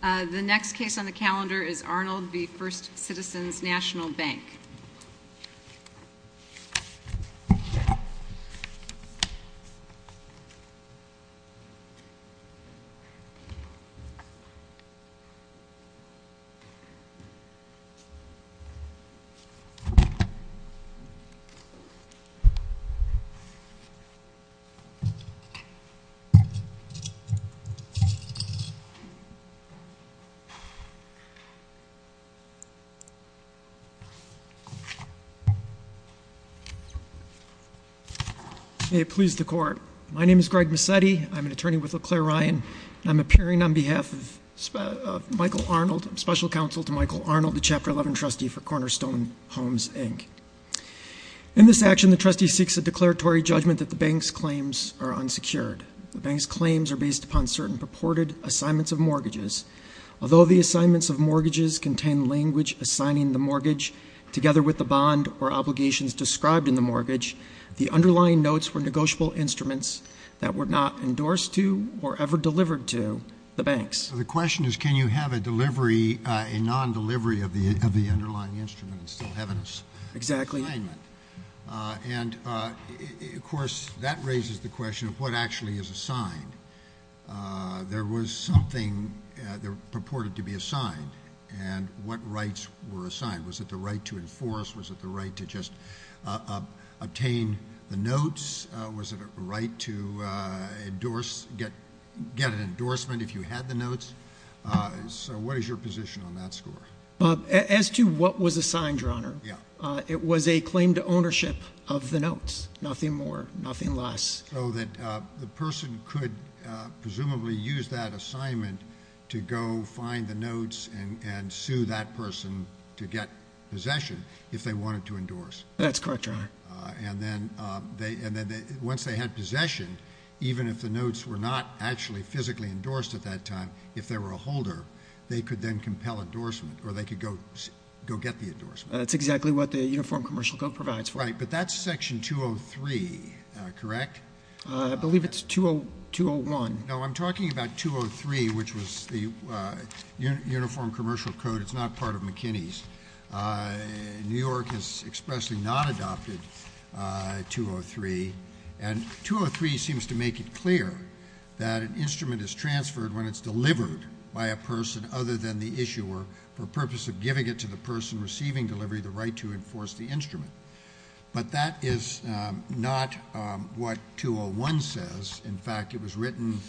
The next case on the calendar is Arnold v. First Citizens National Bank. May it please the Court, my name is Greg Massetti. I'm an attorney with LeClaire Ryan. I'm appearing on behalf of Michael Arnold, special counsel to Michael Arnold, the Chapter 11 trustee for Cornerstone Homes, Inc. In this action, the trustee seeks a declaratory judgment that the bank's claims are unsecured. The bank's claims are based upon certain purported assignments of mortgages. Although the assignments of mortgages contain language assigning the mortgage together with the bond or obligations described in the mortgage, the underlying notes were negotiable instruments that were not endorsed to or ever delivered to the banks. The question is, can you have a delivery, a non-delivery of the underlying instruments still having its assignment? Exactly. And of course, that raises the question of what actually is assigned. There was something purported to be assigned, and what rights were assigned? Was it the right to enforce? Was it the right to just obtain the notes? Was it a right to endorse, get an endorsement if you had the notes? So what is your position on that score? As to what was assigned, Your Honor, it was a claim to ownership of the person could presumably use that assignment to go find the notes and sue that person to get possession if they wanted to endorse. That's correct, Your Honor. And then once they had possession, even if the notes were not actually physically endorsed at that time, if they were a holder, they could then compel endorsement or they could go get the endorsement. That's exactly what the Uniform Commercial Code provides for. Right. But that's Section 203, correct? I believe it's 201. No, I'm talking about 203, which was the Uniform Commercial Code. It's not part of McKinney's. New York has expressly not adopted 203. And 203 seems to make it clear that an instrument is transferred when it's delivered by a person other than the issuer for purpose of giving it to the person receiving delivery the right to enforce the instrument. But that is not what 201 says. In fact, it was written,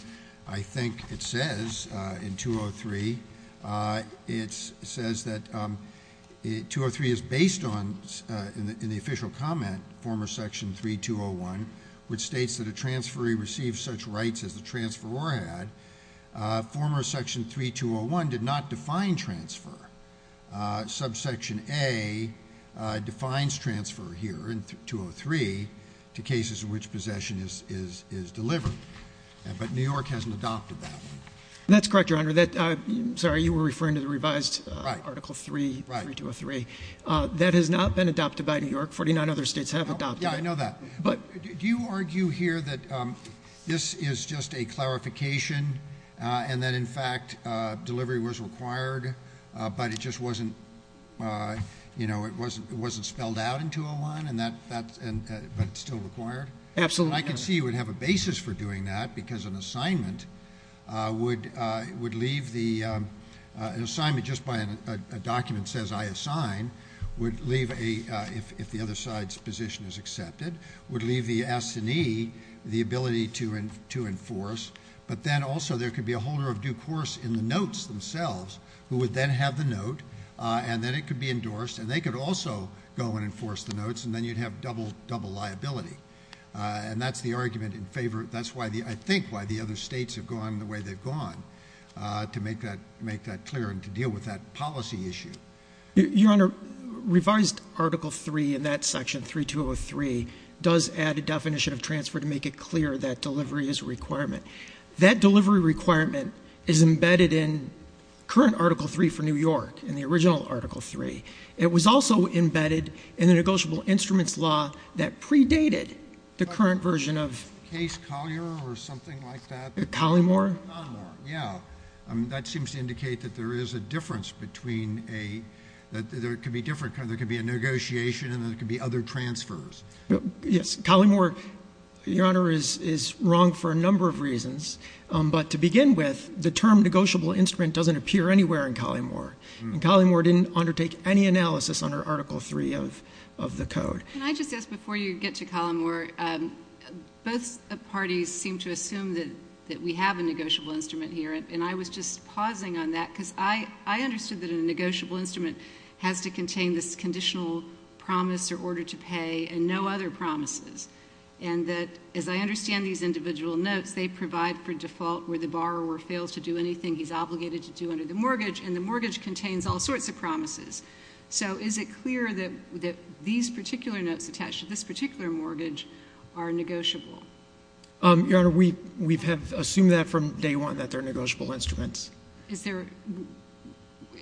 I think it says in 203, it says that 203 is based on, in the official comment, former Section 3201, which states that a transferee receives such rights as the transferor had. Former Section 3201 did not define transfer. Subsection A defines transfer here in 203 to cases in which possession is delivered. But New York hasn't adopted that one. That's correct, Your Honor. Sorry, you were referring to the revised Article 3, 303. That has not been adopted by New York. Forty-nine other states have adopted it. Yeah, I know that. Do you argue here that this is just a clarification, and that, in fact, delivery was required, but it just wasn't, you know, it wasn't spelled out in 201, but it's still required? Absolutely. I can see you would have a basis for doing that, because an assignment would leave the ‑‑ an assignment just by a document says I assign would leave a ‑‑ if the other side's position is accepted, would leave the S&E the ability to enforce, but then also there could be a holder of due course in the notes themselves who would then have the note, and then it could be endorsed, and they could also go and enforce the notes, and then you'd have double liability. And that's the argument in favor ‑‑ that's why the ‑‑ I think why the other states have gone the way they've gone, to make that clear and to deal with that policy issue. Your Honor, revised Article 3 in that section, 3203, does add a definition of transfer to make it clear that delivery is a requirement. That delivery requirement is embedded in current Article 3 for New York, in the original Article 3. It was also embedded in the negotiable instruments law that predated the current version of ‑‑ Case Collier or something like that? Collymore? Collymore, yeah. That seems to indicate that there is a difference between a ‑‑ that there could be different ‑‑ there could be a negotiation and there could be other transfers. Yes. Collymore, Your Honor, is wrong for a number of reasons, but to begin with, the term negotiable instrument doesn't appear anywhere in Collymore, and Collymore didn't undertake any analysis under Article 3 of the code. Can I just ask before you get to Collymore, both parties seem to assume that we have a negotiable instrument here, and I was just pausing on that, because I understood that a negotiable instrument has to contain this conditional promise or order to pay and no other promises, and that, as I understand these individual notes, they provide for default where the borrower fails to do anything he's obligated to do under the mortgage, and the mortgage contains all sorts of promises. So is it clear that these particular notes attached to this particular mortgage are negotiable? Your Honor, we have assumed that from day one, that they're negotiable instruments. Is there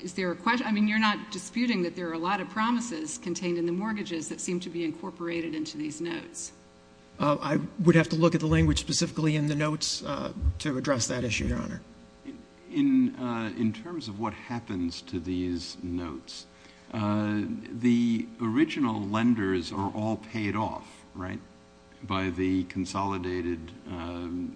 a ‑‑ I mean, you're not disputing that there are a lot of promises contained in the mortgages that seem to be incorporated into these notes? I would have to look at the language specifically in the notes to address that issue, Your Honor. In terms of what happens to these notes, the original lenders are all paid off, right, by the consolidated ‑‑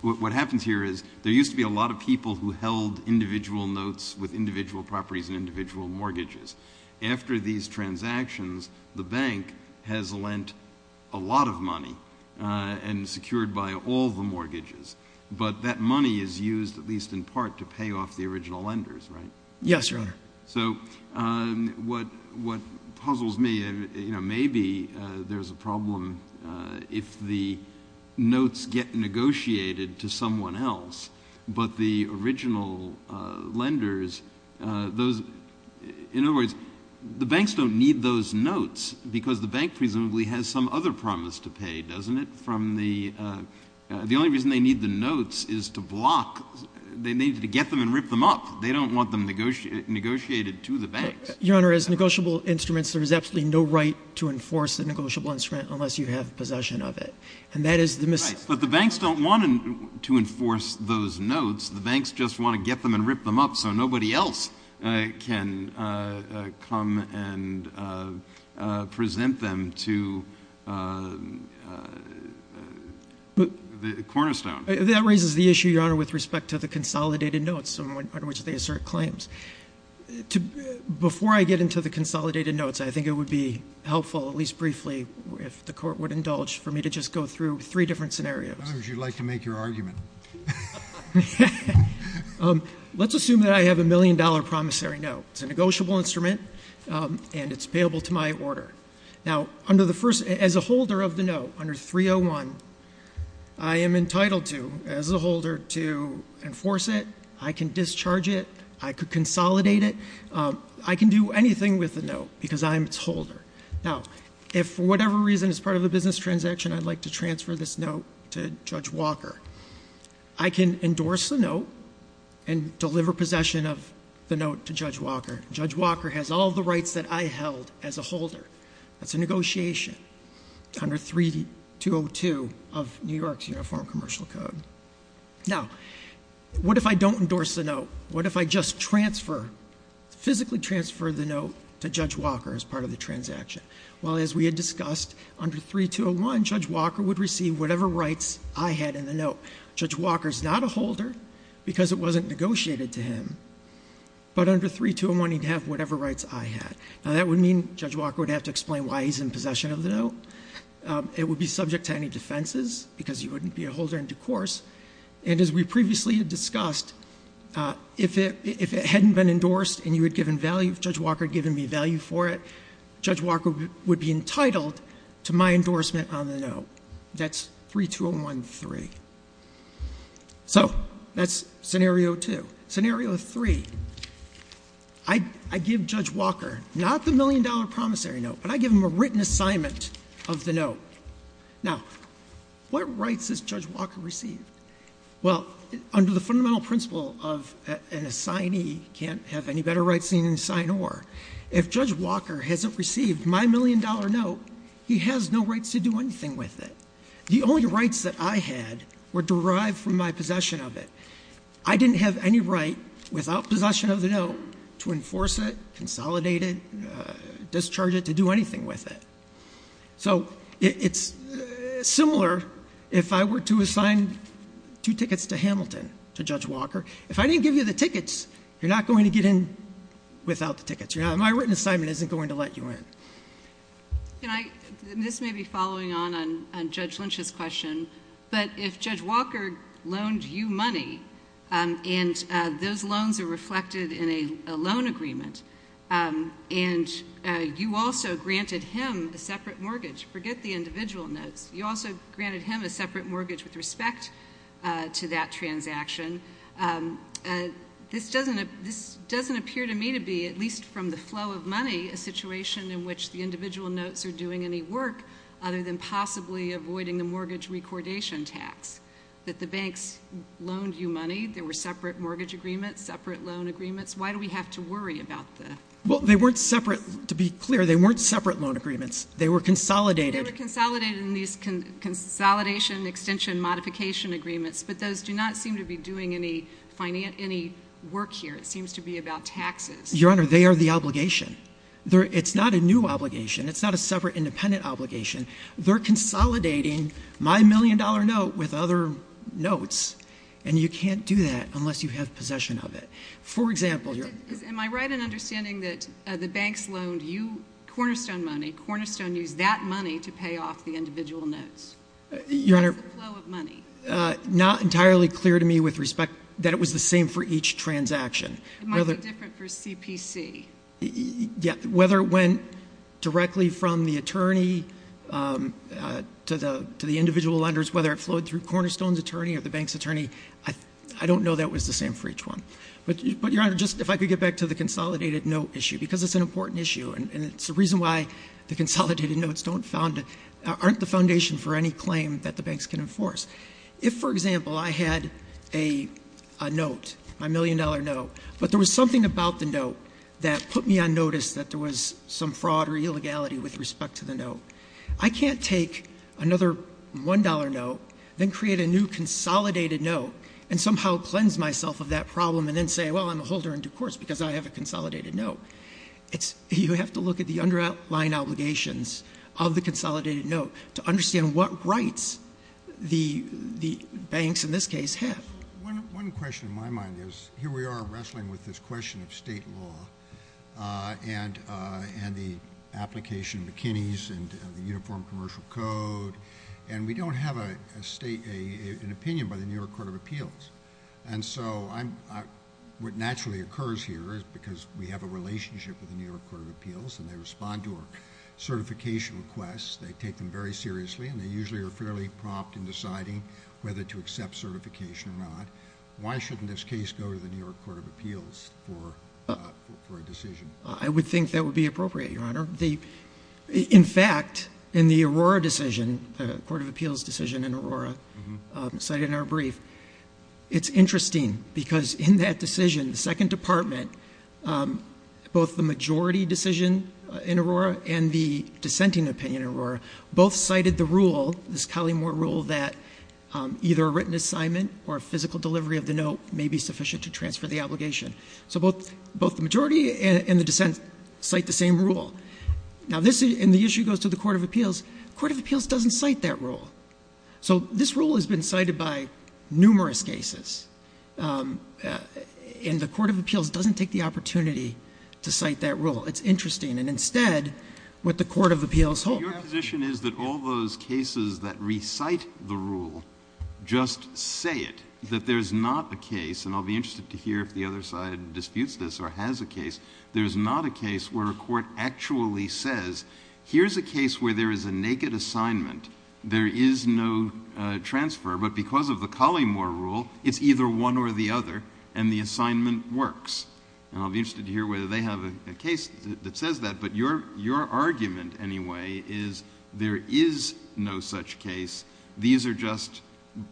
what happens here is there used to be a lot of people who held individual notes with individual properties and individual mortgages. After these transactions, the bank has lent a lot of money and secured by all the mortgages, but that money is used at least in part to pay off the original lenders, right? Yes, Your Honor. So what puzzles me, you know, maybe there's a problem if the notes get negotiated to someone else, but the original lenders, those ‑‑ in other words, the banks don't need those notes because the bank presumably has some other promise to pay, doesn't it, from the bank? The only reason they need the notes is to block, they need to get them and rip them up. They don't want them negotiated to the banks. Your Honor, as negotiable instruments, there is absolutely no right to enforce a negotiable instrument unless you have possession of it, and that is the mis ‑‑ Right, but the banks don't want to enforce those notes. The banks just want to get them and rip them up so nobody else can come and present them to the banks. The cornerstone. That raises the issue, Your Honor, with respect to the consolidated notes under which they assert claims. Before I get into the consolidated notes, I think it would be helpful at least briefly if the Court would indulge for me to just go through three different scenarios. In other words, you'd like to make your argument. Let's assume that I have a million‑dollar promissory note. It's a negotiable instrument and it's payable to my order. Now, under the first, as a holder of the note, under 301, I am entitled to, as a holder, to enforce it. I can discharge it. I could consolidate it. I can do anything with the note because I am its holder. Now, if for whatever reason as part of the business transaction I'd like to transfer this note to Judge Walker, I can endorse the note and deliver possession of the note to all the rights that I held as a holder. That's a negotiation under 3202 of New York's Uniform Commercial Code. Now, what if I don't endorse the note? What if I just transfer, physically transfer the note to Judge Walker as part of the transaction? Well, as we had discussed, under 3201, Judge Walker would receive whatever rights I had in the note. Judge Walker is not a holder because it wasn't negotiated to him. But under 3201, he'd have whatever rights I had. Now, that would mean Judge Walker would have to explain why he's in possession of the note. It would be subject to any defenses because he wouldn't be a holder in due course. And as we previously had discussed, if it hadn't been endorsed and you had given value, if Judge Walker had given me value for it, Judge Walker would be entitled to my endorsement on the note. That's 32013. So, that's scenario two. Scenario three, I give Judge Walker not the million-dollar promissory note, but I give him a written assignment of the note. Now, what rights has Judge Walker received? Well, under the fundamental principle of an assignee can't have any better rights than an assignor, if Judge Walker hasn't received my million-dollar note, he has no rights to do anything with it. The only rights that I had were derived from my possession of it. I didn't have any right, without possession of the note, to enforce it, consolidate it, discharge it, to do anything with it. So, it's similar if I were to assign two tickets to Hamilton to Judge Walker. If I didn't give you the tickets, you're not going to get in without the tickets. My written assignment isn't going to let you in. This may be following on on Judge Lynch's question, but if Judge Walker loaned you money, and those loans are reflected in a loan agreement, and you also granted him a separate mortgage—forget the individual notes—you also granted him a separate mortgage with respect to that transaction, this doesn't appear to me to be, at least from the flow of money, a situation in which the individual notes are doing any work, other than possibly avoiding the mortgage recordation tax. That the banks loaned you money, there were separate mortgage agreements, separate loan agreements, why do we have to worry about the— Well, they weren't separate—to be clear, they weren't separate loan agreements. They were consolidated. They were consolidated in these consolidation, extension, modification agreements, but those do not seem to be doing any work here. It seems to be about taxes. Your Honor, they are the obligation. It's not a new obligation. It's not a separate independent obligation. They're consolidating my million-dollar note with other notes, and you can't do that unless you have possession of it. For example— Am I right in understanding that the banks loaned you cornerstone money, cornerstone used that money to pay off the individual notes? Your Honor— That's the flow of money. Not entirely clear to me with respect that it was the same for each transaction. It might be different for CPC. Yeah. Whether it went directly from the attorney to the individual lenders, whether it flowed through cornerstone's attorney or the bank's attorney, I don't know that it was the same for each one. But, Your Honor, just if I could get back to the consolidated note issue, because it's an important issue, and it's the reason why the consolidated notes aren't the foundation for any claim that the banks can enforce. If, for example, I had a note, a million-dollar note, but there was something about the note that put me on notice that there was some fraud or illegality with respect to the note, I can't take another one-dollar note, then create a new consolidated note, and somehow cleanse myself of that problem and then say, well, I'm a holder in due course because I have a consolidated note. You have to look at the underlying obligations of the consolidated note to understand what rights the banks, in this case, have. One question in my mind is, here we are wrestling with this question of state law and the application of Bikinis and the Uniform Commercial Code, and we don't have an opinion by the New York Court of Appeals. And so what naturally occurs here is because we have a relationship with the New York Court of Appeals, and they respond to our certification requests, they take them very seriously, and they usually are fairly prompt in deciding whether to accept certification or not, why shouldn't this case go to the New York Court of Appeals for a decision? I would think that would be appropriate, Your Honor. In fact, in the Aurora decision, the Court of Appeals decision in Aurora, cited in our brief, it's interesting because in that decision, the Second Department, both the majority decision in Aurora and the dissenting opinion in Aurora, both cited the rule, this Colleymore rule, that either a written assignment or a physical delivery of the note may be sufficient to transfer the obligation. So both the majority and the dissent cite the same rule. Now this, and the issue goes to the Court of Appeals, the Court of Appeals doesn't cite that rule. So this rule has been cited by numerous cases. And the Court of Appeals doesn't take the opportunity to cite that rule. It's interesting. And instead, what the Court of Appeals hopes— Your position is that all those cases that recite the rule just say it, that there's not a case, and I'll be interested to hear if the other side disputes this or has a case, there's not a case where a court actually says, here's a case where there is a naked assignment. There is no transfer. But because of the Colleymore rule, it's either one or the other, and the assignment works. And I'll be interested to hear whether they have a case that says that. But your argument, anyway, is there is no such case. These are just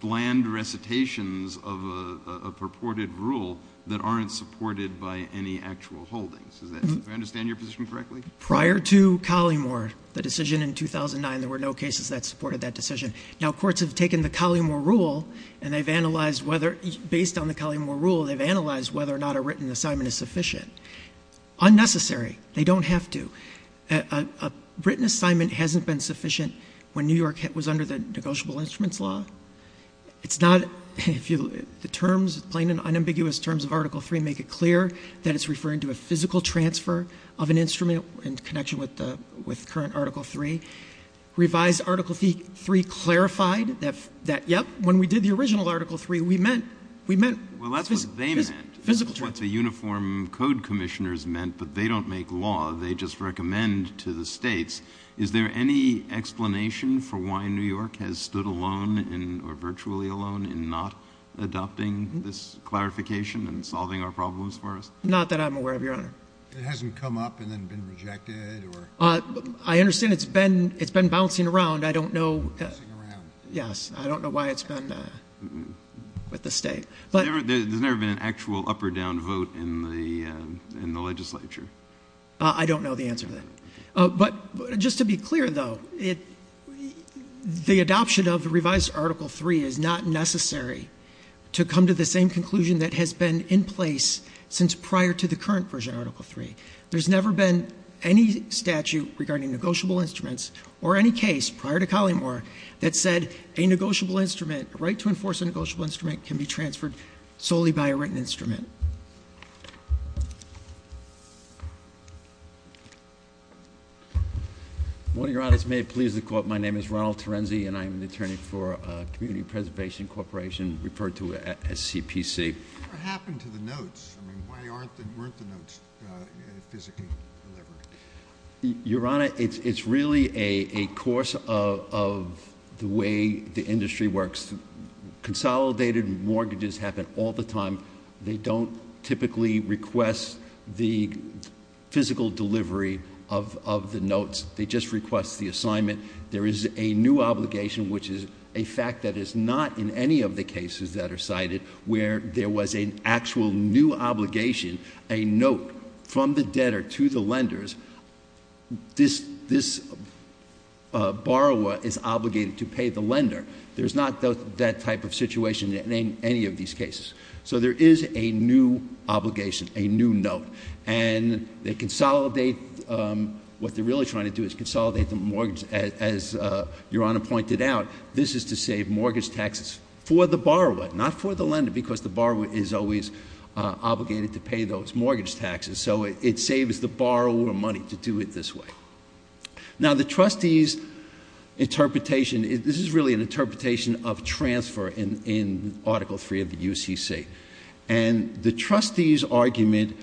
bland recitations of a purported rule that aren't supported by any actual holdings. Do I understand your position correctly? Prior to Colleymore, the decision in 2009, there were no cases that supported that decision. Now courts have taken the Colleymore rule, and they've analyzed whether—based on the Colleymore rule, they've analyzed whether or not a written assignment is sufficient. Unnecessary. They don't have to. A written assignment hasn't been sufficient when New York was under the negotiable instruments law. It's not—the terms, plain and unambiguous terms of Article III make it clear that it's referring to a physical transfer of an instrument in connection with current Article III. Revised Article III clarified that, yep, when we did the original Article III, we meant—we meant physical transfer. Well, that's what they meant. Physical transfer. That's what the Uniform Code Commissioners meant, but they don't make law. They just recommend to the states, is there any explanation for why New York has stood alone or virtually alone in not adopting this clarification and solving our problems for us? Not that I'm aware of, Your Honor. It hasn't come up and then been rejected, or— I understand it's been—it's been bouncing around. I don't know— Bouncing around. Yes. I don't know why it's been with the state. There's never been an actual up or down vote in the—in the legislature. I don't know the answer to that. But just to be clear, though, it—the adoption of Revised Article III is not necessary to come to the same conclusion that has been in place since prior to the current version of Article III. There's never been any statute regarding negotiable instruments or any case prior to Collymore that said a negotiable instrument—a right to enforce a negotiable instrument can be transferred solely by a written instrument. Morning, Your Honor. As may it please the Court, my name is Ronald Terenzi, and I am an attorney for Community Preservation Corporation, referred to as CPC. What happened to the notes? I mean, why aren't the—weren't the notes physically delivered? Your Honor, it's really a course of the way the industry works. Consolidated mortgages happen all the time. They don't typically request the physical delivery of the notes. They just request the assignment. There is a new obligation, which is a fact that is not in any of the cases that are cited where there was an actual new obligation, a note from the debtor to the lenders. This—this borrower is obligated to pay the lender. There's not that type of obligation in any of these cases. So there is a new obligation, a new note. And they consolidate—what they're really trying to do is consolidate the mortgage. As Your Honor pointed out, this is to save mortgage taxes for the borrower, not for the lender, because the borrower is always obligated to pay those mortgage taxes. So it saves the borrower money to do it this way. Now, the trustees' interpretation—this is really an interpretation of transfer in—in Article III of the UCC. And the trustees' argument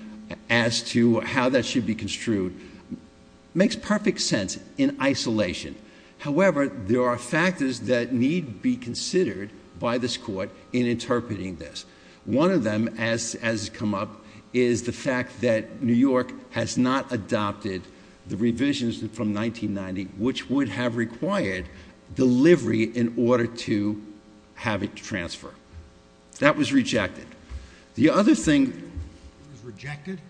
as to how that should be construed makes perfect sense in isolation. However, there are factors that need to be considered by this Court in interpreting this. One of them, as—as has come up, is the fact that New York has not adopted the revisions from 1990, which would have required delivery in order to have it transfer. That was rejected. The other thing— It was rejected?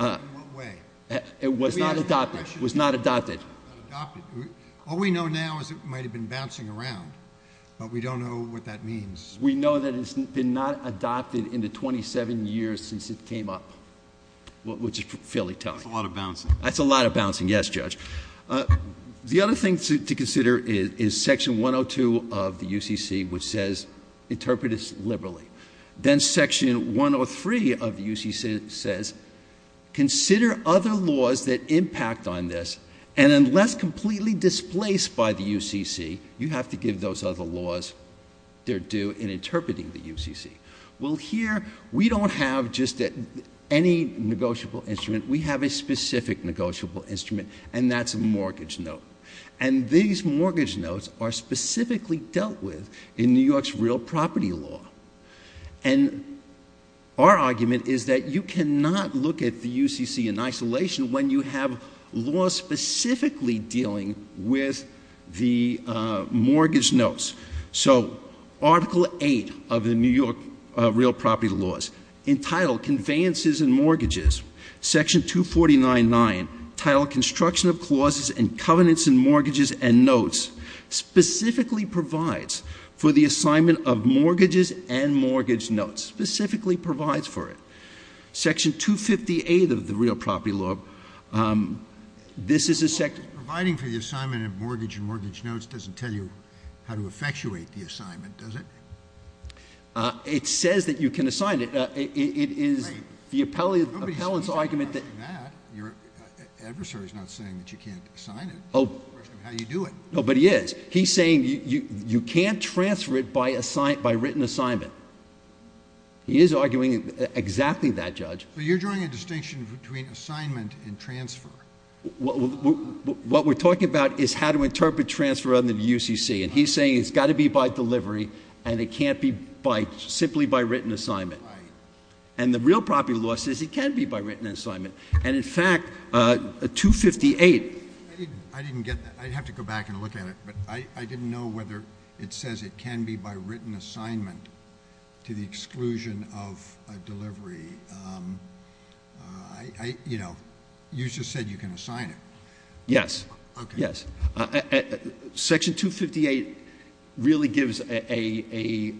In what way? It was not adopted. Let me ask you a question. It was not adopted. Not adopted. All we know now is it might have been bouncing around, but we don't know what that means. We know that it's been not adopted in the 27 years since it came up, which is fairly telling. That's a lot of bouncing. That's a lot of bouncing, yes, Judge. The other thing to consider is—is Section 102 of the UCC, which says interpret it liberally. Then Section 103 of the UCC says consider other laws that impact on this, and unless completely displaced by the UCC, you have to give those other laws their due in interpreting the UCC. Well, here, we don't have just any negotiable instrument. We have a specific negotiable instrument, and that's a mortgage note. And these mortgage notes are specifically dealt with in New York's real property law. And our argument is that you cannot look at the UCC in isolation when you have laws specifically dealing with the mortgage notes. So Article 8 of the New York real property laws, entitled Conveyances and Mortgages, Section 249.9, titled Construction of Clauses and Covenants in Mortgages and Notes, specifically provides for the assignment of mortgages and mortgage notes—specifically provides for it. Section 258 of the real property law, this is a— Providing for the assignment of mortgage and mortgage notes doesn't tell you how to effectuate the assignment, does it? It says that you can assign it. It is the appellant's argument that— Nobody says you can't do that. Your adversary's not saying that you can't assign it. It's a question of how you do it. No, but he is. He's saying you can't transfer it by written assignment. He is arguing exactly that, Judge. So you're drawing a distinction between assignment and transfer? What we're talking about is how to interpret transfer under the UCC, and he's saying it's got to be by delivery, and it can't be by—simply by written assignment. Right. And the real property law says it can be by written assignment, and in fact, 258— I didn't get that. I'd have to go back and look at it, but I didn't know whether it says it can be by written assignment to the exclusion of delivery. You know, you just said you can assign it. Yes. Okay. Yes. Section 258 really gives a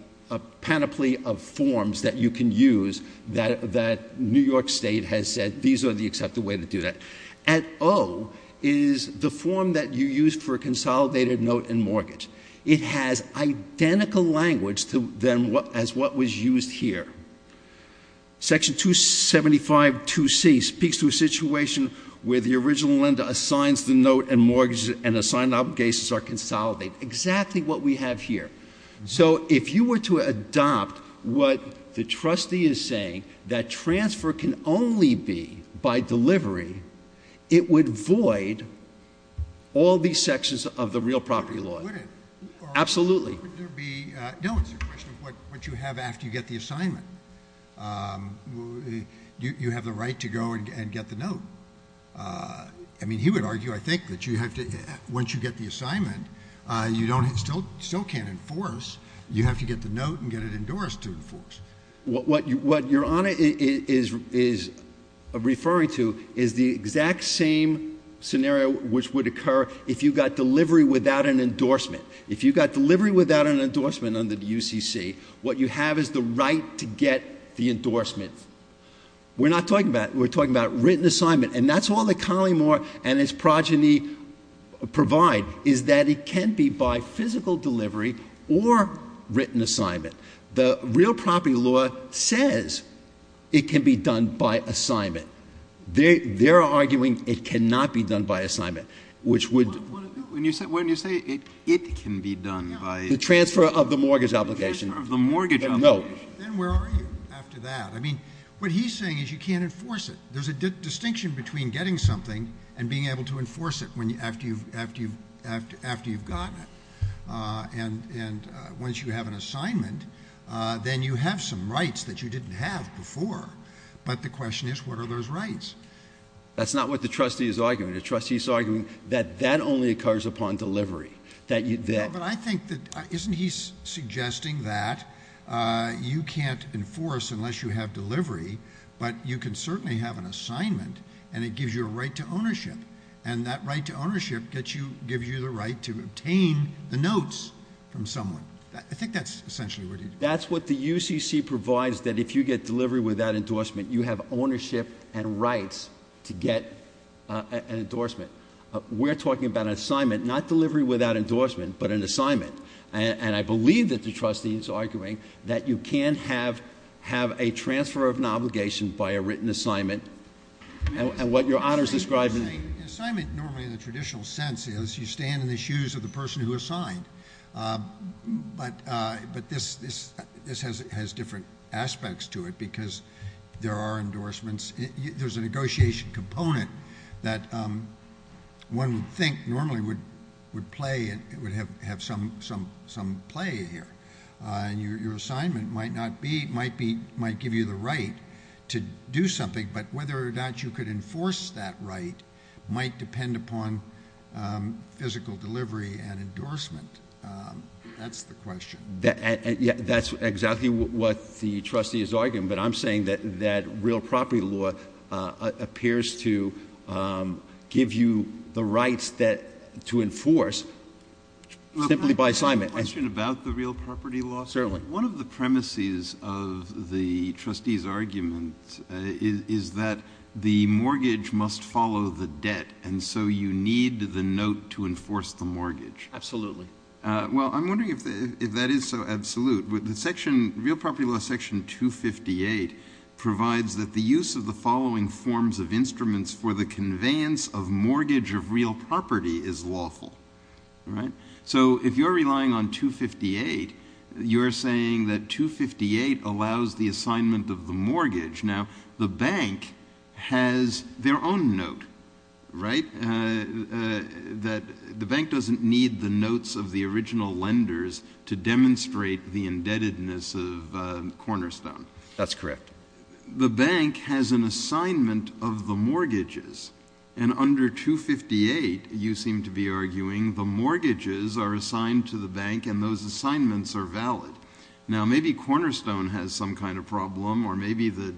panoply of forms that you can use that New York State has said these are the accepted way to do that. At O is the form that you used for a consolidated note in mortgage. It has identical language as what was used here. Section 275.2c speaks to a situation where the original lender assigns the note and mortgages and assigned obligations are consolidated. Exactly what we have here. So if you were to adopt what the trustee is saying, that transfer can only be by delivery, it would void all these sections of the real property law. Would it? Absolutely. No, it's a question of what you have after you get the assignment. You have the right to go and get the note. I mean, he would argue, I think, that once you get the assignment, you still can't enforce. You have to get the note and get it endorsed to enforce. What Your Honor is referring to is the exact same scenario which would occur if you got delivery without an endorsement under the UCC. What you have is the right to get the endorsement. We're not talking about, we're talking about written assignment. And that's all that Collymore and his progeny provide, is that it can be by physical delivery or written assignment. The real property law says it can be done by assignment. They're arguing it cannot be done by assignment, which would- When you say it can be done by- The transfer of the mortgage obligation. The transfer of the mortgage obligation. The note. Then where are you after that? I mean, what he's saying is you can't enforce it. There's a distinction between getting something and being able to enforce it after you've gotten it. And once you have an assignment, then you have some rights that you didn't have before. But the question is, what are those rights? That's not what the trustee is arguing. The trustee is arguing that that only occurs upon delivery. No, but I think that, isn't he suggesting that you can't enforce unless you have delivery, but you can certainly have an assignment and it gives you a right to ownership. And that right to ownership gives you the right to obtain the notes from someone. I think that's essentially what he's- That's what the UCC provides, that if you get delivery without endorsement, you have ownership and rights to get an endorsement. We're talking about an assignment, not delivery without endorsement, but an assignment. And I believe that the trustee is arguing that you can't have a transfer of an obligation by a written assignment. And what your honors describe in- The assignment normally in the traditional sense is you stand in the shoes of the person who assigned. But this has different aspects to it because there are endorsements. There's a negotiation component that one would think normally would play and would have some play here. And your assignment might give you the right to do something, but whether or not you could enforce that right might depend upon physical delivery and endorsement. That's the question. That's exactly what the trustee is arguing. But I'm saying that real property law appears to give you the rights to enforce simply by assignment. Can I ask a question about the real property law? Certainly. One of the premises of the trustee's argument is that the mortgage must follow the debt, and so you need the note to enforce the mortgage. Absolutely. Well, I'm wondering if that is so absolute. The section, real property law section 258 provides that the use of the following forms of instruments for the conveyance of mortgage of real property is lawful. So if you're relying on 258, you're saying that 258 allows the assignment of the mortgage. Now, the bank has their own note, right? The bank doesn't need the notes of the original lenders to demonstrate the indebtedness of Cornerstone. That's correct. The bank has an assignment of the mortgages, and under 258, you seem to be arguing the mortgages are assigned to the bank and those assignments are valid. Now, maybe Cornerstone has some kind of problem, or maybe the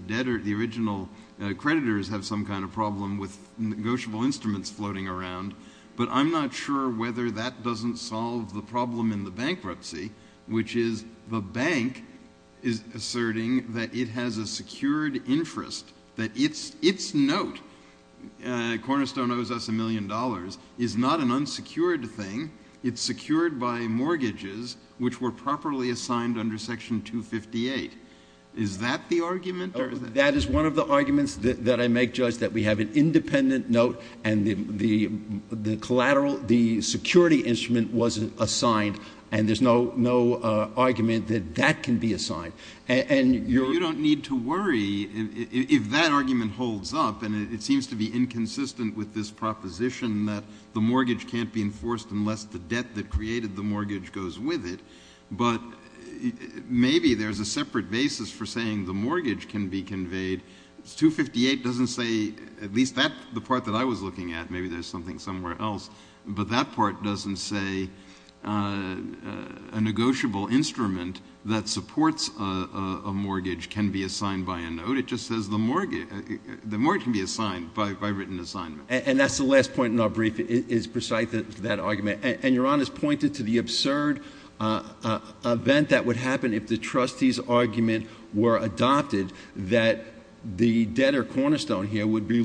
original creditors have some kind of problem with negotiable instruments floating around, but I'm not sure whether that doesn't solve the problem in the bankruptcy, which is the bank is asserting that it has a secured interest, that its note, Cornerstone owes us a million dollars, is not an unsecured thing. It's secured by mortgages which were properly assigned under section 258. Is that the argument? That is one of the arguments that I make, Judge, that we have an independent note and the collateral, the security instrument wasn't assigned, and there's no argument that that can be assigned. You don't need to worry. If that argument holds up, and it seems to be inconsistent with this proposition that the mortgage can't be enforced unless the debt that created the mortgage goes with it, but maybe there's a separate basis for saying the mortgage can be conveyed. 258 doesn't say, at least the part that I was looking at, maybe there's something somewhere else, but that part doesn't say a negotiable instrument that supports a mortgage can be assigned by a note. It just says the mortgage can be assigned by written assignment. And that's the last point in our brief, is precisely that argument. And Your Honor's the debtor cornerstone here would be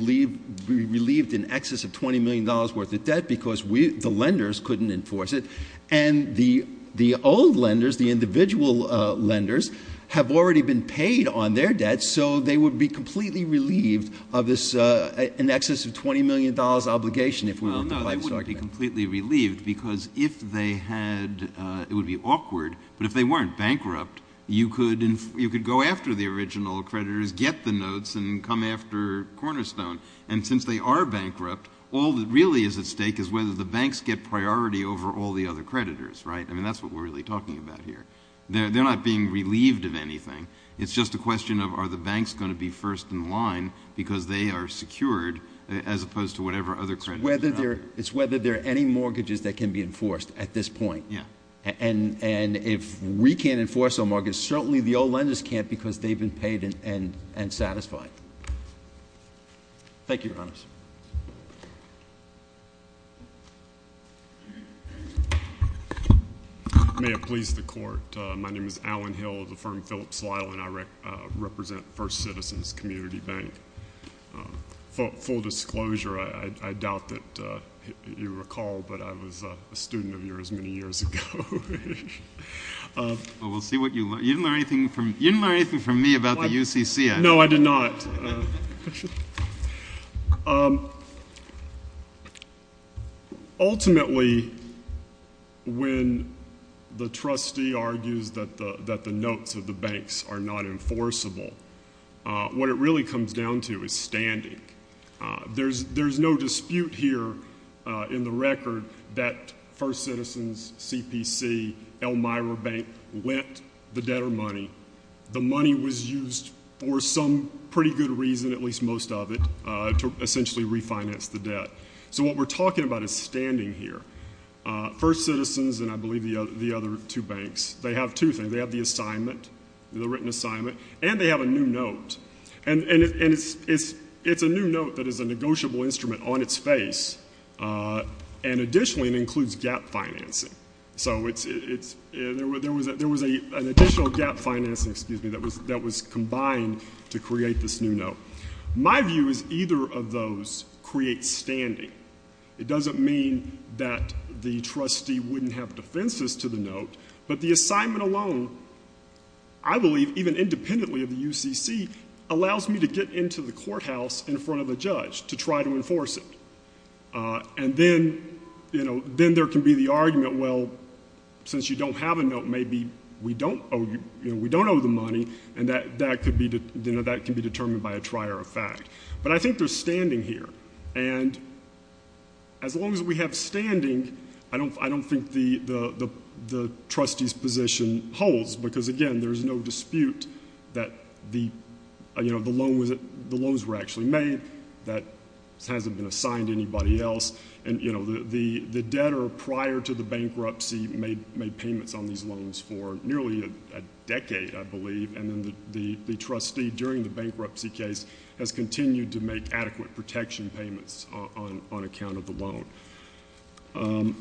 relieved in excess of $20 million worth of debt because the lenders couldn't enforce it. And the old lenders, the individual lenders, have already been paid on their debts, so they would be completely relieved of this in excess of $20 million obligation if we were to apply this argument. No, they wouldn't be completely relieved because if they had, it would be awkward, but if they could go after the original creditors, get the notes, and come after cornerstone. And since they are bankrupt, all that really is at stake is whether the banks get priority over all the other creditors, right? I mean, that's what we're really talking about here. They're not being relieved of anything. It's just a question of are the banks going to be first in line because they are secured as opposed to whatever other creditors are out there. It's whether there are any mortgages that can be enforced at this point. Yeah. And if we can't enforce those mortgages, certainly the old lenders can't because they've been paid and satisfied. Thank you, Your Honors. May it please the Court. My name is Alan Hill of the firm Phillips Lyle, and I represent First Citizens Community Bank. Full disclosure, I doubt that you recall, but I was a student of yours many years ago. Well, we'll see what you learn. You didn't learn anything from me about the UCC Act. No, I did not. Ultimately, when the trustee argues that the notes of the banks are not enforceable, what it really comes down to is standing. There's no dispute here in the First Citizens, CPC, Elmira Bank, lent the debtor money. The money was used for some pretty good reason, at least most of it, to essentially refinance the debt. So what we're talking about is standing here. First Citizens and I believe the other two banks, they have two things. They have the assignment, the written assignment, and they have a new note. And it's a new note that is a negotiable instrument on its face, and additionally, it includes gap financing. So there was an additional gap financing that was combined to create this new note. My view is either of those creates standing. It doesn't mean that the trustee wouldn't have defenses to the note, but the assignment alone, I believe, even independently of the UCC, allows me to get into the courthouse in front of a judge to try to enforce it. And then, you know, then there can be the argument, well, since you don't have a note, maybe we don't owe you, you know, we don't owe the money, and that could be, you know, that can be determined by a trier of fact. But I think there's standing here. And as long as we have standing, I don't think the trustee's position holds, because, again, there's no dispute that the, you know, the loans were actually made, that this hasn't been assigned to anybody else, and, you know, the debtor prior to the bankruptcy made payments on these loans for nearly a decade, I believe, and then the trustee during the bankruptcy case has continued to make adequate protection payments on account of the loan.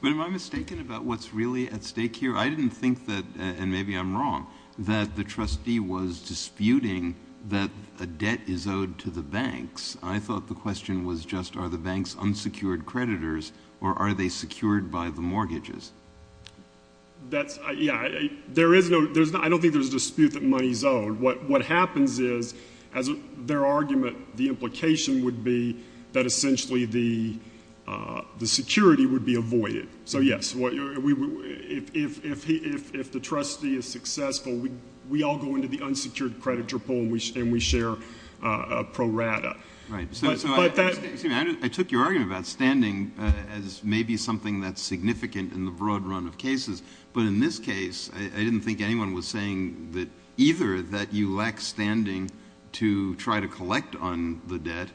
But am I mistaken about what's really at stake here? I didn't think that, and maybe I'm wrong, that the trustee was disputing that a debt is owed to the banks. I thought the question was just are the banks unsecured creditors, or are they secured by the mortgages? That's, yeah, there is no, there's no, I don't think there's a dispute that money's owed. What happens is, as their argument, the implication would be that essentially the security would be avoided. So, yes, if the trustee is successful, we all go into the unsecured creditor pool and we share a pro rata. Right. So, excuse me, I took your argument about standing as maybe something that's significant in the broad run of cases, but in this case, I didn't think anyone was saying that either that you lack standing to try to collect on the debt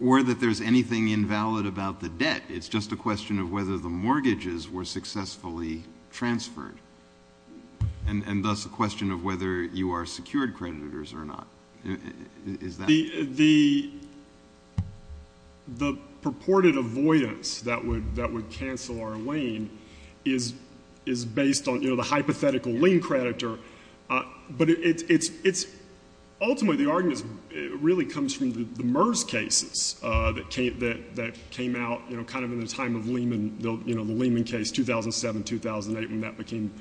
or that there's anything invalid about the debt. It's just a question of whether the mortgages were successfully transferred, and thus a question of whether you are secured creditors or not. Is that? The purported avoidance that would cancel our lien is based on, you know, the hypothetical lien creditor, but it's, ultimately the argument really comes from the MERS cases that cancel came out, you know, kind of in the time of Lehman, you know, the Lehman case, 2007, 2008, when that became,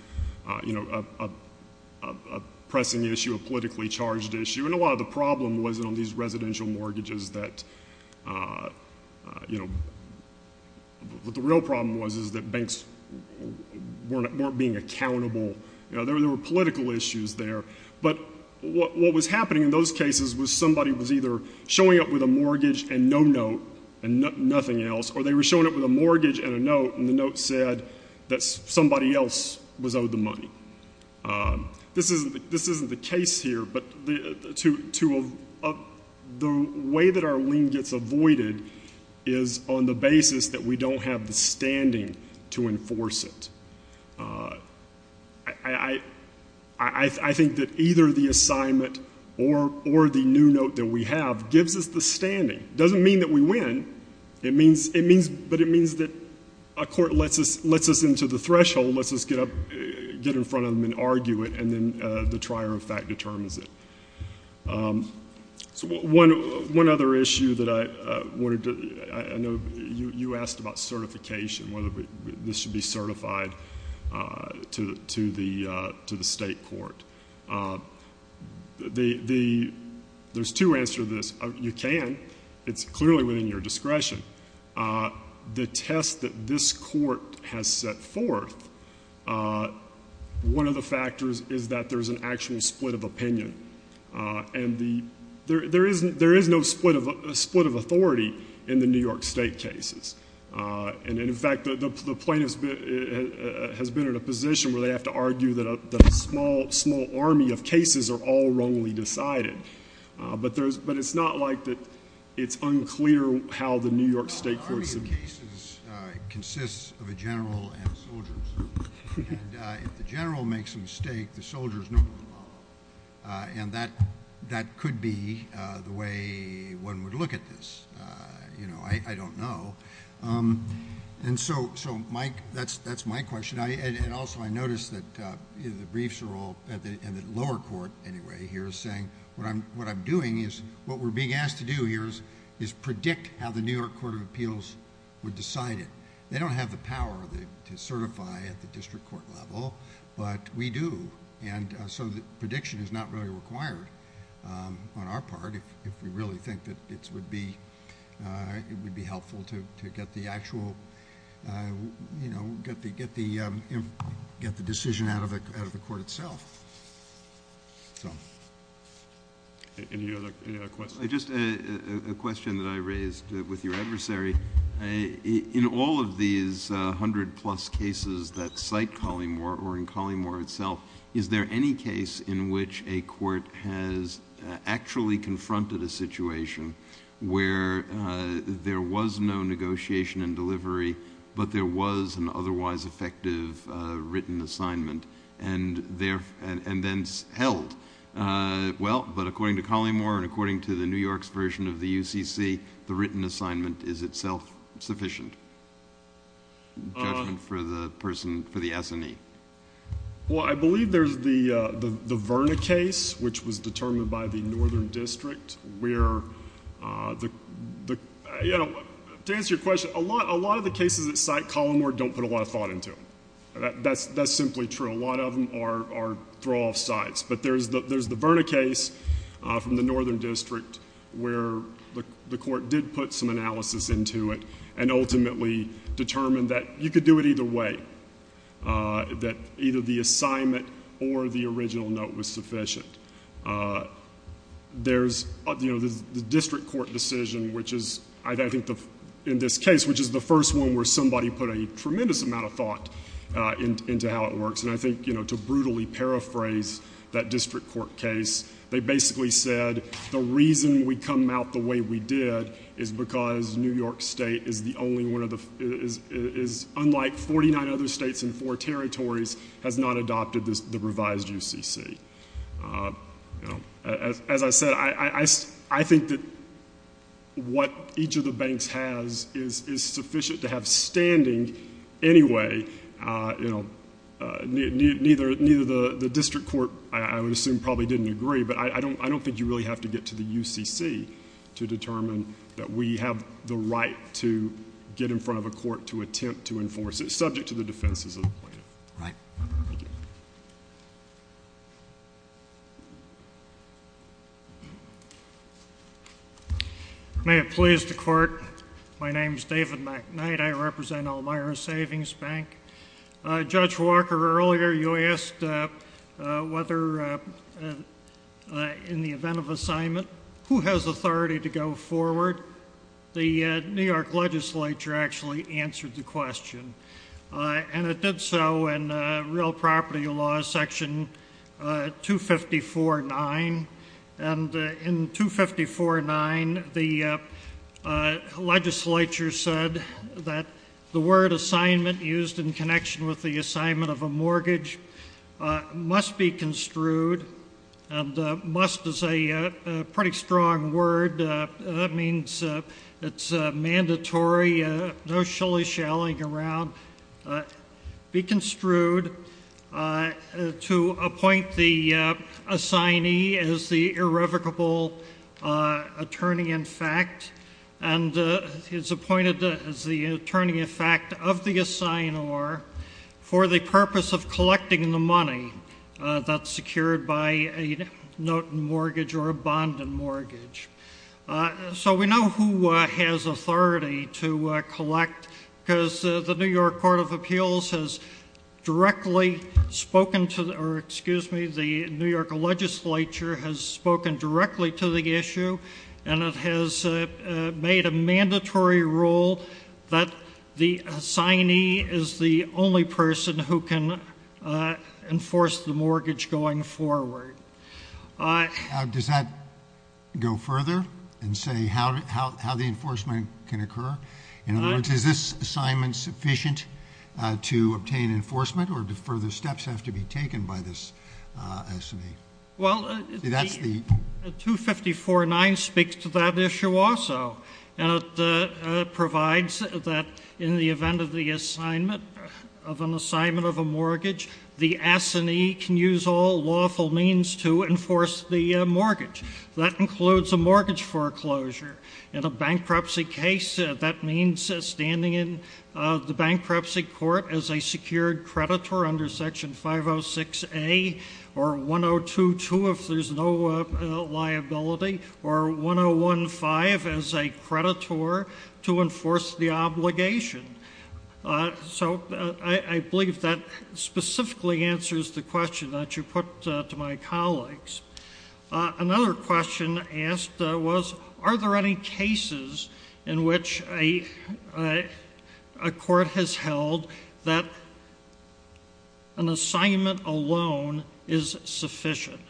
you know, a pressing issue, a politically charged issue, and a lot of the problem was on these residential mortgages that, you know, what the real problem was is that banks weren't being accountable. You know, there were political issues there, but what was happening in those cases was somebody was either showing up with a mortgage and no note and nothing else, or they were showing up with a mortgage and a note, and the note said that somebody else was owed the money. This isn't the case here, but the way that our lien gets avoided is on the basis that we don't have the standing to enforce it. I think that either the assignment or the new note that we have gives us the standing. It doesn't mean that we win, but it means that a court lets us into the threshold, lets us get up, get in front of them and argue it, and then the trier of fact determines it. One other issue that I wanted to, I know you asked about certification, whether this should be certified to the state court. There's two answers to this. You can, but you can't get it. It's clearly within your discretion. The test that this court has set forth, one of the factors is that there's an actual split of opinion, and there is no split of authority in the New York State cases. In fact, the plaintiff has been in a position where they have to argue that a small army of cases are all wrongly decided, but it's not like that it's unclear how the New York State court's opinion... The army of cases consists of a general and a soldier. If the general makes a mistake, the soldier is not going to follow. That could be the way one would look at this. I don't know. That's my question. Also, I noticed that the briefs are all, and the lower court anyway here is saying, what I'm doing is, what we're being asked to do here is predict how the New York Court of Appeals would decide it. They don't have the power to certify at the district court level, but we do. The prediction is not really required on our part if we really think that it would be helpful to get the decision out of the court itself. Any other questions? Just a question that I raised with your adversary. In all of these 100 plus cases that cite Collymore or in Collymore itself, is there any case in which a court has actually confronted a situation where there was no negotiation and delivery, but there was an otherwise effective written assignment and then held? Well, but according to Collymore and according to the New York's version of the UCC, the written assignment is itself sufficient? Judgment for the person, for the S&E? Well, I believe there's the Verna case, which was determined by the Northern District, where the, to answer your question, a lot of the cases that cite Collymore don't put a lot of thought into them. That's simply true. A lot of them are throw-off sites, but there's the Verna case from the Northern District where the court did put some analysis into it and ultimately determined that you could do it either way, that either the assignment or the original note was sufficient. There's the district court decision, which is, I think in this case, which is the first one where somebody put a tremendous amount of thought into how it works, and I think, you know, to brutally paraphrase that district court case, they basically said the reason we come out the way we did is because New York State is the only one of the, is unlike 49 other states and four territories, has not adopted this, the revised UCC. As I said, I think that what each of the banks has done, and the district court case has, is sufficient to have standing anyway, you know, neither the district court, I would assume, probably didn't agree, but I don't think you really have to get to the UCC to determine that we have the right to get in front of a court to attempt to enforce it, subject to the defenses of the plaintiff. Right. Thank you. May it please the Court, my name is David McKnight. I represent Elmira Savings Bank. Judge Walker, earlier you asked whether in the event of assignment, who has authority to go forward. The New York legislature actually answered the question, and it did so, and real property law section 254.9, and in 254.9, the legislature said that the word assignment used in connection with the assignment of a mortgage must be construed, and must is a pretty strong word. That means it's mandatory, no shilly-shallying around. Be construed, to appoint the assignee as the irrevocable attorney-in-fact, and is appointed as the attorney-in-fact of the assignor, for the purpose of collecting the money that's secured by a note in mortgage or a bond in mortgage. So we know who has authority to collect, because the New York Court of Appeals has directly spoken to, or excuse me, the New York legislature has spoken directly to the issue, and it has made a mandatory rule that the assignee is the only person who can enforce the mortgage going forward. Does that go further, and say how the enforcement can occur? In other words, is this assignment sufficient to obtain enforcement, or do further steps have to be taken by this assignee? Well, 254.9 speaks to that issue also. It provides that in the event of the assignment, of an assignment of a mortgage, the assignee can use all lawful means to enforce the mortgage. That includes a mortgage foreclosure. In a bankruptcy case, that means standing in the bankruptcy court as a secured creditor under Section 506A, or 102.2 if there's no liability, or 101.5 as a creditor to enforce the obligation. So I believe that specifically answers the question of my colleagues. Another question asked was, are there any cases in which a court has held that an assignment alone is sufficient?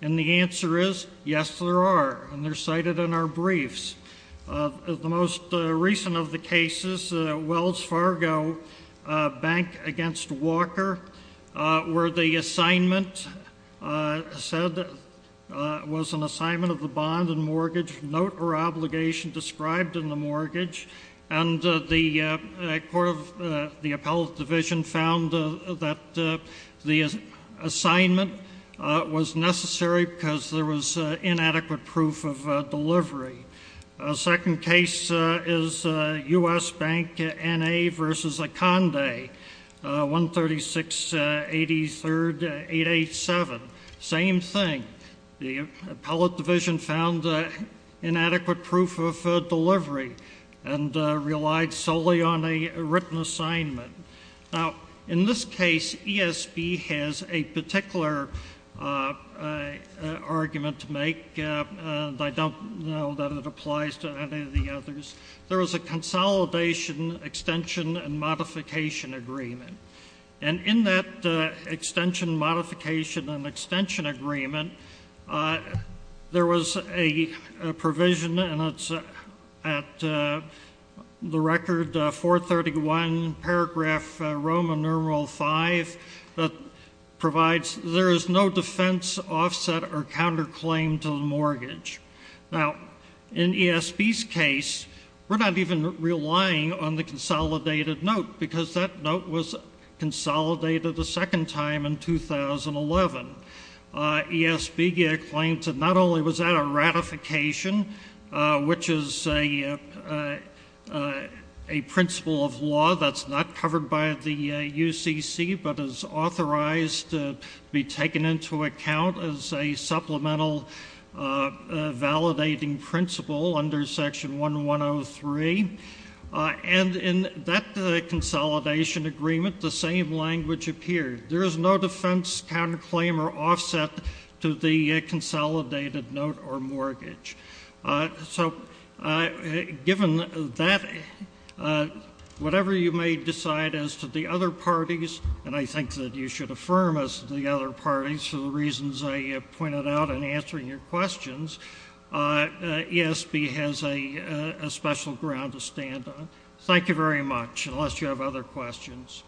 And the answer is, yes, there are, and they're cited in our briefs. The most recent of the cases, Wells Fargo Bank against Walker, where the assignment said, was an assignment of the bond and mortgage, note or obligation described in the mortgage, and the Court of the Appellate Division found that the assignment was necessary because there was inadequate proof of delivery. Second case is U.S. Bank N.A. v. Econde, 13683.887, St. Louis, Missouri. And the court did the same thing. The Appellate Division found inadequate proof of delivery and relied solely on a written assignment. Now, in this case, ESB has a particular argument to make, and I don't know that it applies to any of the others. There was a consolidation, extension, and modification agreement. And in that extension, modification, and extension agreement, there was a provision, and it's at the record 431 paragraph Roman numeral 5, that provides, there is no defense, offset or counterclaim to the mortgage. Now, in ESB's case, we're not even relying on the consolidated note, because that note was consolidated a second time in 2011. ESB claims that not only was that a ratification, which is a principle of law that's not covered by the UCC, but is authorized to be taken into account as a supplemental validating principle under Section 1103. And in that consolidation agreement, the same language appeared. There is no defense, counterclaim, or offset to the consolidated note or mortgage. So given that, whatever you may decide as to the other parties, and I think that you should affirm as to the other parties for the reasons I pointed out in answering your questions, ESB has a special ground to stand on. Thank you very much, unless you have other questions.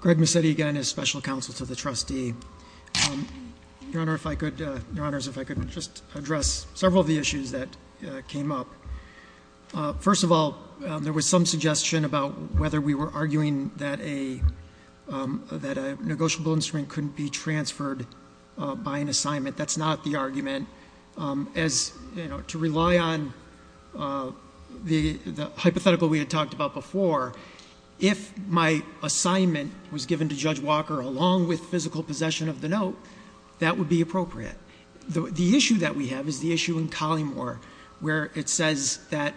Greg Musetti again is special counsel to the trustee. Your Honor, if I could, Your Honors, if I could just address several of the issues that came up. First of all, there was some arguing that a negotiable instrument couldn't be transferred by an assignment. That's not the argument. As, you know, to rely on the hypothetical we had talked about before, if my assignment was given to Judge Walker along with physical possession of the note, that would be appropriate. The issue that we have is the issue in Collymore, where it is not.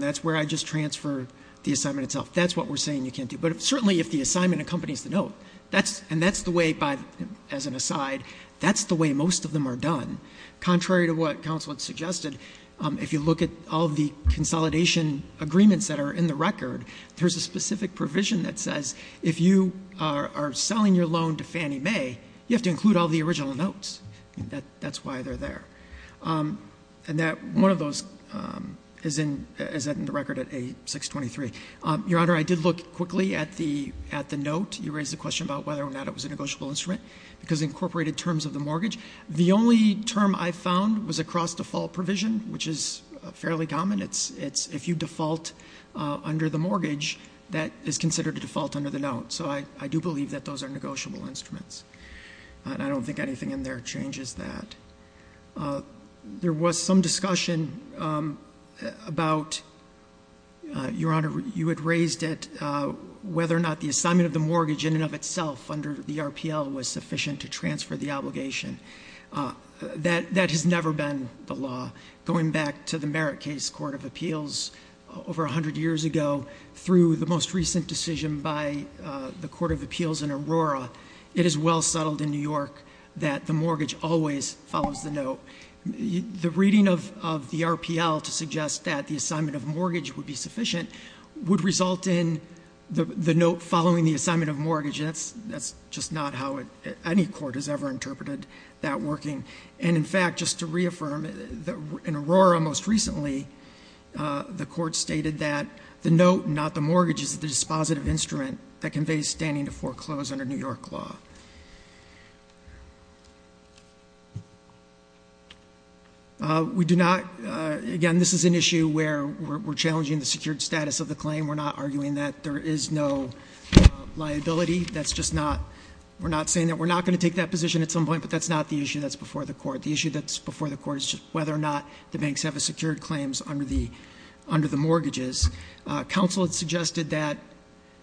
That's where I just transfer the assignment itself. That's what we're saying you can't do. But certainly if the assignment accompanies the note, and that's the way, as an aside, that's the way most of them are done. Contrary to what counsel had suggested, if you look at all the consolidation agreements that are in the record, there's a specific provision that says if you are selling your loan to Fannie Mae, you have to include all the original notes. That's why they're there. And that one of those is in the record at A623. Your Honor, I did look quickly at the note. You raised the question about whether or not it was a negotiable instrument, because incorporated terms of the mortgage. The only term I found was a cross-default provision, which is fairly common. It's if you default under the mortgage, that is considered a default under the note. So I do believe that those are negotiable instruments. I don't think anything in there changes that. There was some discussion about, Your Honor, you had raised it, whether or not the assignment of the mortgage in and of itself under the RPL was sufficient to transfer the obligation. That has never been the law. Going back to the Merit Case Court of Appeals over 100 years ago, through the most recent decision by the Court of Appeals in Aurora, it is well settled in New York that the mortgage always follows the note. The reading of the RPL to suggest that the assignment of mortgage would be sufficient would result in the note following the assignment of mortgage. That's just not how any court has ever interpreted that working. And in fact, just to reaffirm, in Aurora most recently, the court stated that the note, not the mortgage, is the dispositive instrument that conveys standing to foreclose under New York law. We do not, again, this is an issue where we're challenging the secured status of the claim. We're not arguing that there is no liability. That's just not, we're not saying that. We're not going to take that position at some point, but that's not the issue that's before the court. The issue that's before the court is just whether or not the banks have secured claims under the mortgages. Counsel had suggested that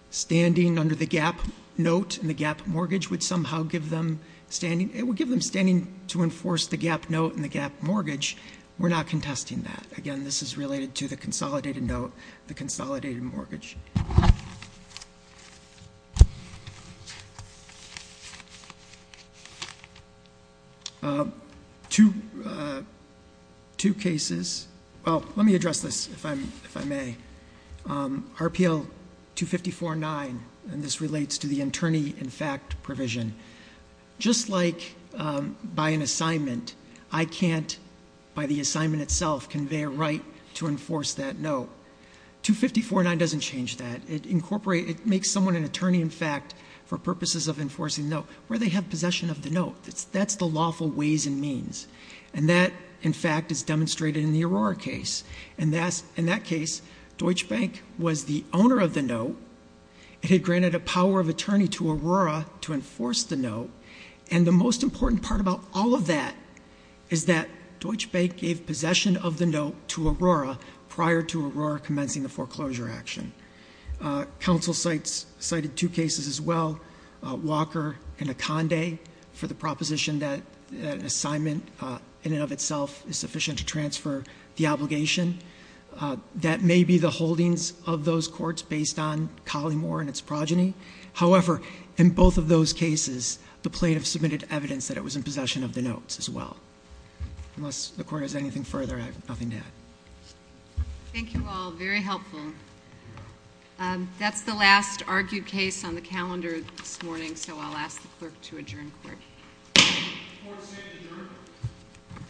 standing under the GAAP note and the GAAP mortgage would somehow give them standing, it would give them standing to enforce the GAAP note and the GAAP mortgage. We're not contesting that. Again, this is related to the consolidated note, the consolidated mortgage. Two cases, well, let me address this, if I may. RPL 2549, and this relates to the attorney in fact provision. Just like by an assignment, I can't, by the assignment itself, convey a right to enforce that note. 2549 doesn't change that. It incorporates, it makes someone an attorney in fact for purposes of enforcing note where they have possession of the note. That's the lawful ways and means. And that, in fact, is demonstrated in the Aurora case. And that's, in that case, Deutsche Bank was the owner of the note. It had granted a power of attorney to Aurora to enforce the note. And the most important part about all of that is that Deutsche Bank gave possession of the note to Aurora prior to Aurora commencing the foreclosure action. Counsel cited two cases as well, Walker and Akande, for the proposition that an assignment in and of itself is sufficient to transfer the obligation. That may be the holdings of those courts based on Collymore and its progeny. However, in both of those cases, the plaintiff submitted evidence that it was in possession of the notes as well. Unless the court has anything further, I have nothing to add. Thank you all. Very helpful. That's the last argued case on the calendar this morning, so I'll ask the clerk to adjourn court.